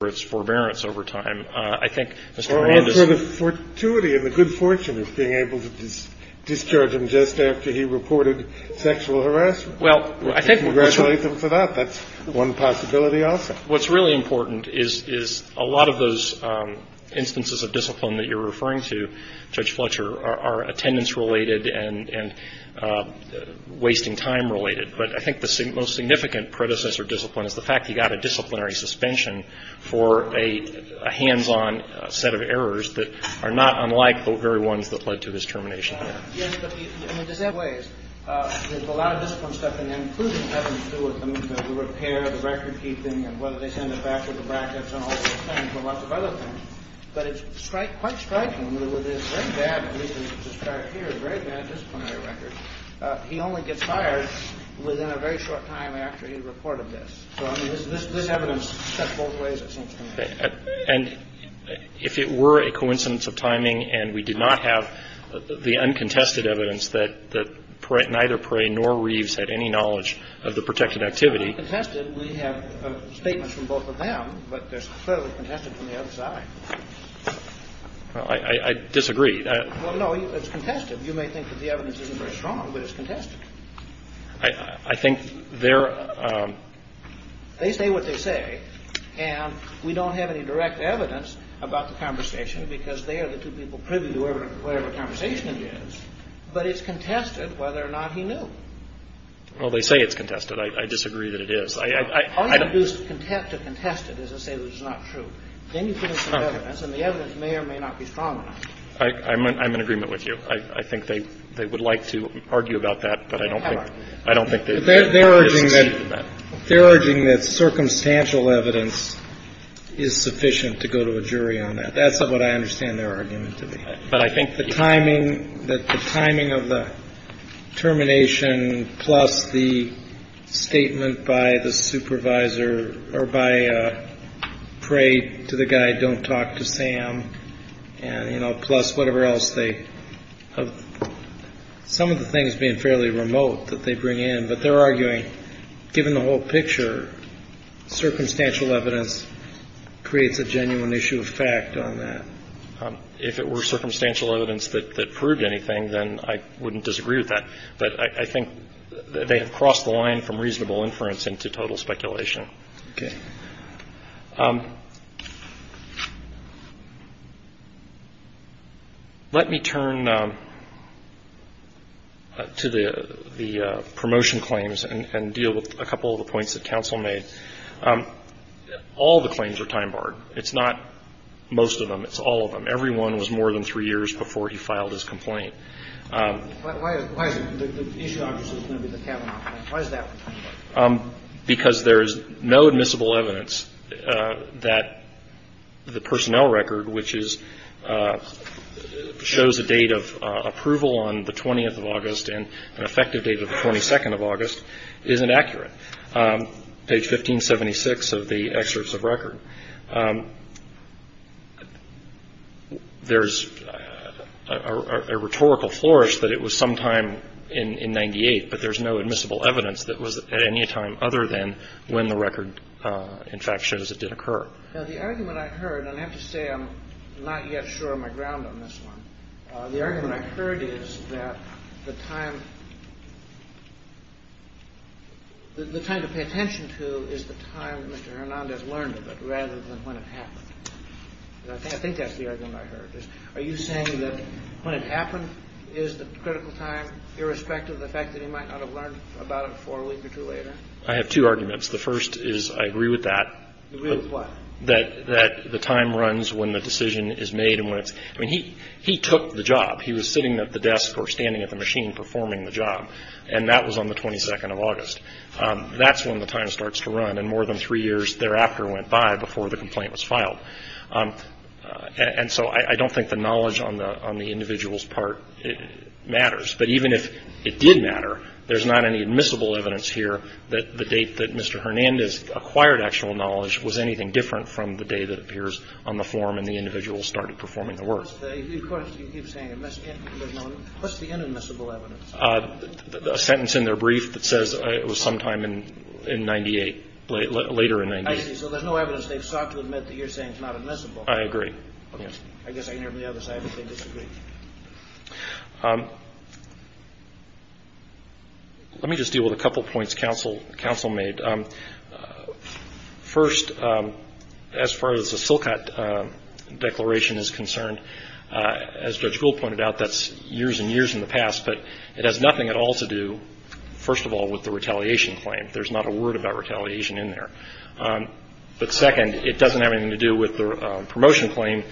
for its forbearance over time. I think Mr. Hernandez Or answer the fortuity and the good fortune of being able to discharge him just after he reported sexual harassment. Well, I think Congratulate him for that. That's one possibility also. What's really important is a lot of those instances of discipline that you're referring to, Judge Fletcher, are attendance-related and wasting time-related. But I think the most significant predecessor discipline is the fact he got a disciplinary suspension for a hands-on set of errors that are not unlike the very ones that led to his termination. Yes, but there's a lot of discipline stuff, and that includes having to do with the movement, the repair, the record-keeping, and whether they send it back with the brackets and all those things, and lots of other things. But it's quite striking. In other words, it's very bad, at least as described here, a very bad disciplinary record. And it's very difficult to get a criminal record. It's a very difficult discipline to get a criminal record. And so I think that's one possibility. The other possibility is that he only gets fired within a very short time after he reported this. So this evidence steps both ways, it seems to me. And if it were a coincidence of timing and we did not have the uncontested evidence that neither Perry nor Reeves had any knowledge of the protected activity. We have statements from both of them, but they're clearly contested from the other side. I disagree. No, it's contested. You may think that the evidence isn't very strong, but it's contested. I think they're... They say what they say, and we don't have any direct evidence about the conversation because they are the two people privy to whatever conversation it is. But it's contested whether or not he knew. Well, they say it's contested. I disagree that it is. All you have to do to contest it is to say that it's not true. Then you put in some evidence, and the evidence may or may not be strong enough. I'm in agreement with you. I think they would like to argue about that, but I don't think they've succeeded in that. They're urging that circumstantial evidence is sufficient to go to a jury on that. That's what I understand their argument to be. But I think the timing, that the timing of the termination plus the statement by the supervisor or by pray to the guy don't talk to Sam and, you know, plus whatever else they have, some of the things being fairly remote that they bring in, but they're arguing, given the whole picture, circumstantial evidence creates a genuine issue of fact on that. If it were circumstantial evidence that proved anything, then I wouldn't disagree with that. But I think they have crossed the line from reasonable inference into total speculation. Okay. Let me turn to the promotion claims and deal with a couple of the points that counsel made. All the claims are time-barred. It's not most of them. It's all of them. Every one was more than three years before he filed his complaint. Why is it? The issue obviously is going to be the Kavanaugh complaint. Why is that? Because there is no admissible evidence that the personnel record, which shows a date of approval on the 20th of August and an effective date of the 22nd of August, isn't accurate. Page 1576 of the excerpts of record, there's a rhetorical flourish that it was sometime in 98, but there's no admissible evidence that was at any time other than when the record, in fact, shows it did occur. The argument I heard, and I have to say I'm not yet sure of my ground on this one, the argument I heard is that the time to pay attention to is the time Mr. Hernandez learned of it rather than when it happened. I think that's the argument I heard. Are you saying that when it happened is the critical time, irrespective of the fact that he might not have learned about it a week or two later? I have two arguments. The first is I agree with that. You agree with what? That the time runs when the decision is made. I mean, he took the job. He was sitting at the desk or standing at the machine performing the job, and that was on the 22nd of August. That's when the time starts to run, and more than three years thereafter went by before the complaint was filed. And so I don't think the knowledge on the individual's part matters. But even if it did matter, there's not any admissible evidence here that the date that Mr. Hernandez acquired actual knowledge was anything different from the day that appears on the form and the individual started performing the work. Of course, you keep saying admissible. What's the inadmissible evidence? A sentence in their brief that says it was sometime in 98, later in 98. I see. So there's no evidence they've sought to admit that you're saying is not admissible. I agree. Let me just deal with a couple points counsel made. First, as far as the Silcot Declaration is concerned, as Judge Gould pointed out, that's years and years in the past. But it has nothing at all to do, first of all, with the retaliation claim. There's not a word about retaliation in there. But, second, it doesn't have anything to do with the promotion claim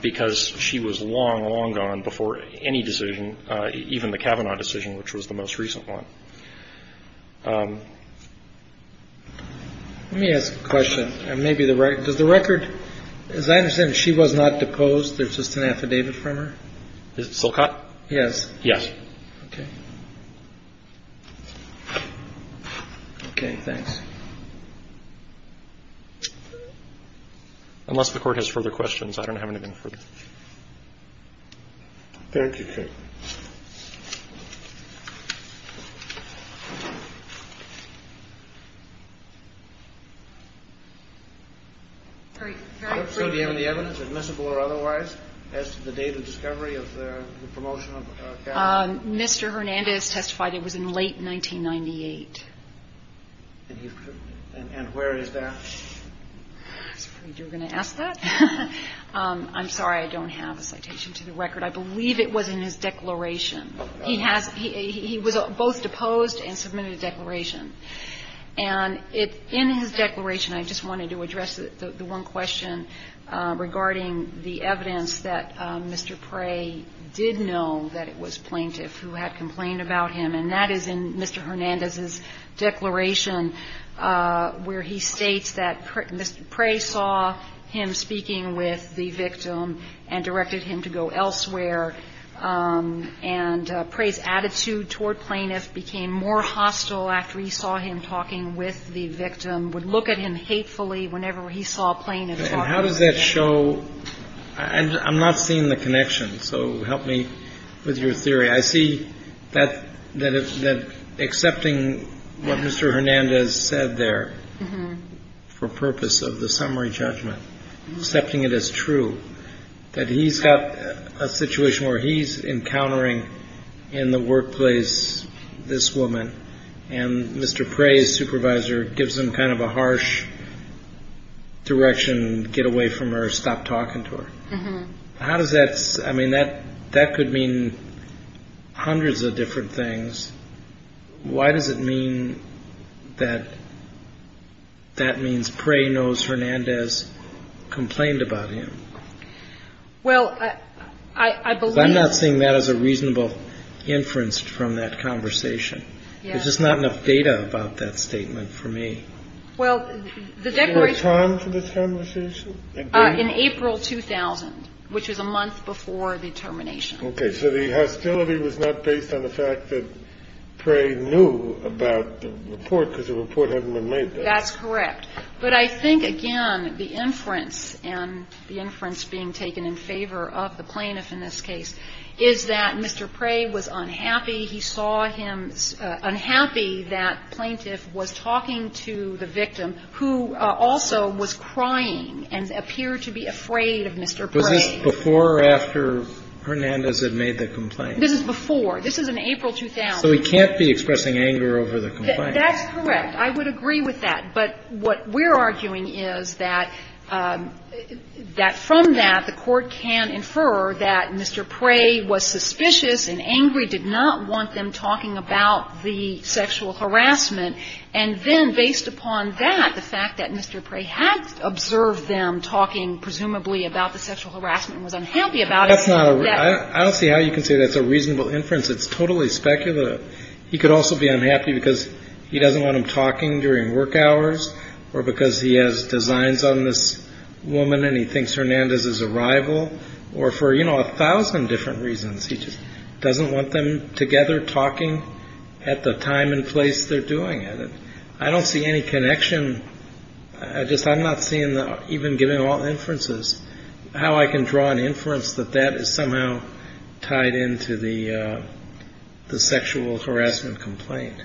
because she was long, long gone before any decision, even the Kavanaugh decision, which was the most recent one. Let me ask a question. Does the record, as I understand, she was not deposed. There's just an affidavit from her. Is it Silcot? Yes. Yes. Okay. Okay, thanks. Unless the Court has further questions, I don't have anything further. Thank you, Chief. So do you have any evidence, admissible or otherwise, as to the date of discovery of the promotion of Kavanaugh? Mr. Hernandez testified it was in late 1998. And where is that? I was afraid you were going to ask that. I'm sorry. I don't have a citation to the record. I believe it was in his declaration. He was both deposed and submitted a declaration. And in his declaration, I just wanted to address the one question regarding the evidence that Mr. Prey did know that it was plaintiff who had complained about him. And that is in Mr. Hernandez's declaration where he states that Mr. Prey saw him speaking with the victim and directed him to go elsewhere. And Prey's attitude toward plaintiff became more hostile after he saw him talking with the victim, would look at him hatefully whenever he saw plaintiff. And how does that show? I'm not seeing the connection, so help me with your theory. I see that accepting what Mr. Hernandez said there for purpose of the summary judgment, accepting it as true, that he's got a situation where he's encountering in the workplace this woman and Mr. Prey's supervisor gives him kind of a harsh direction, get away from her, stop talking to her. How does that, I mean, that could mean hundreds of different things. Why does it mean that that means Prey knows Hernandez complained about him? I'm not seeing that as a reasonable inference from that conversation. There's just not enough data about that statement for me. Well, the declaration. Is there a time for this conversation? In April 2000, which is a month before the termination. Okay. So the hostility was not based on the fact that Prey knew about the report because the report hadn't been made then. That's correct. But I think, again, the inference and the inference being taken in favor of the plaintiff in this case is that Mr. Prey was unhappy. He saw him unhappy. That plaintiff was talking to the victim who also was crying and appeared to be afraid of Mr. Prey. Was this before or after Hernandez had made the complaint? This is before. This is in April 2000. So he can't be expressing anger over the complaint. That's correct. I would agree with that. But what we're arguing is that from that, the Court can infer that Mr. Prey was suspicious and angry, did not want them talking about the sexual harassment. And then based upon that, the fact that Mr. Prey had observed them talking presumably about the sexual harassment and was unhappy about it. I don't see how you can say that's a reasonable inference. It's totally speculative. He could also be unhappy because he doesn't want them talking during work hours or because he has designs on this woman and he thinks Hernandez is a rival. Or for, you know, a thousand different reasons, he just doesn't want them together talking at the time and place they're doing it. I don't see any connection. I'm not seeing, even given all inferences, how I can draw an inference that that is somehow tied into the sexual harassment complaint.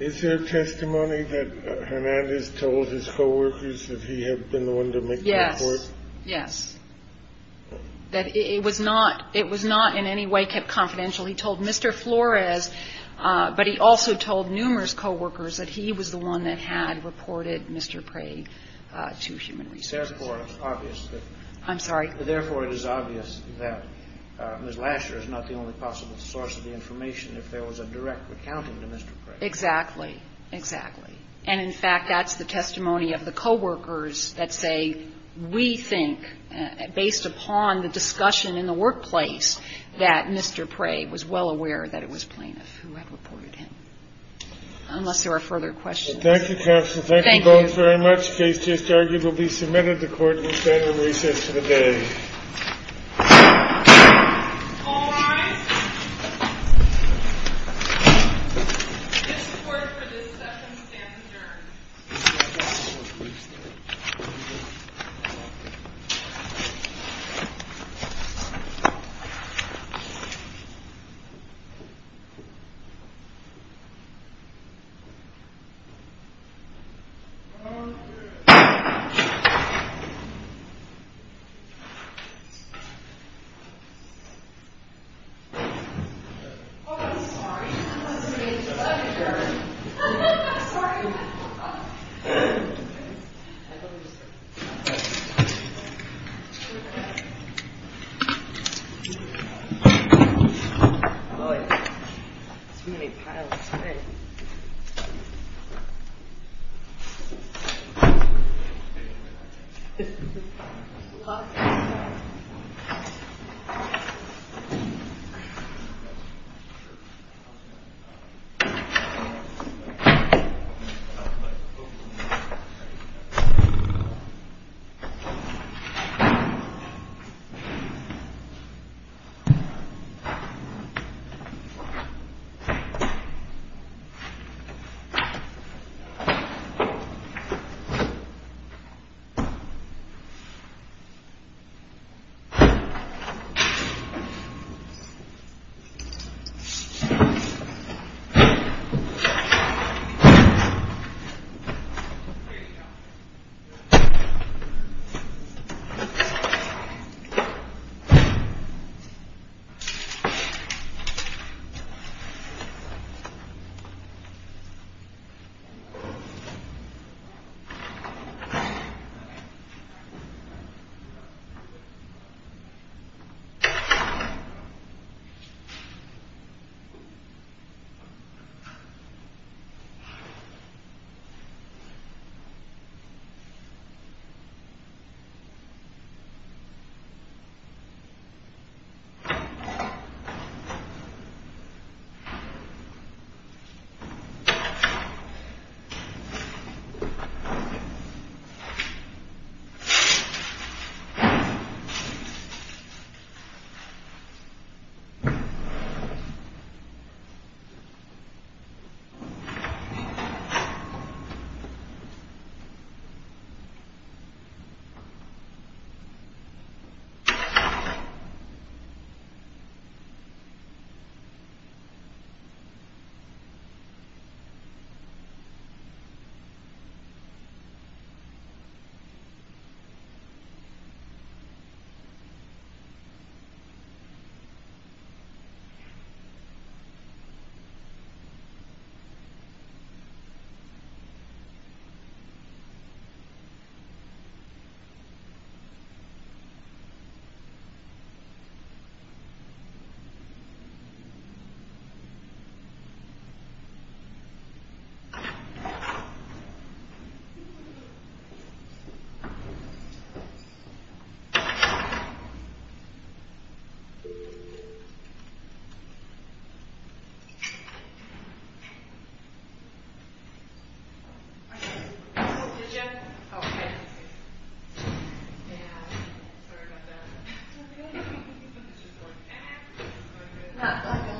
Is there testimony that Hernandez told his co-workers that he had been the one to make the report? Yes. Yes. That it was not in any way kept confidential. He told Mr. Flores, but he also told numerous co-workers that he was the one that had reported Mr. Prey to human resources. Therefore, it's obvious that Ms. Lasher is not the only possible source of the information if there was a direct accounting to Mr. Prey. Exactly. Exactly. And, in fact, that's the testimony of the co-workers that say we think, based upon the discussion in the workplace, that Mr. Prey was well aware that it was plaintiff who had reported him. Unless there are further questions. Thank you, counsel. Thank you both very much. Thank you. Case just argued will be submitted to court and will stand in recess for the day. All rise. This court for this session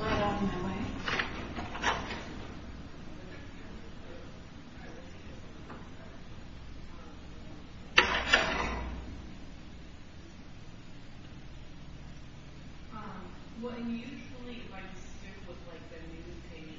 stands adjourned. Thank you. Thank you. Thank you. Thank you. Thank you. Thank you. Thank you. Thank you.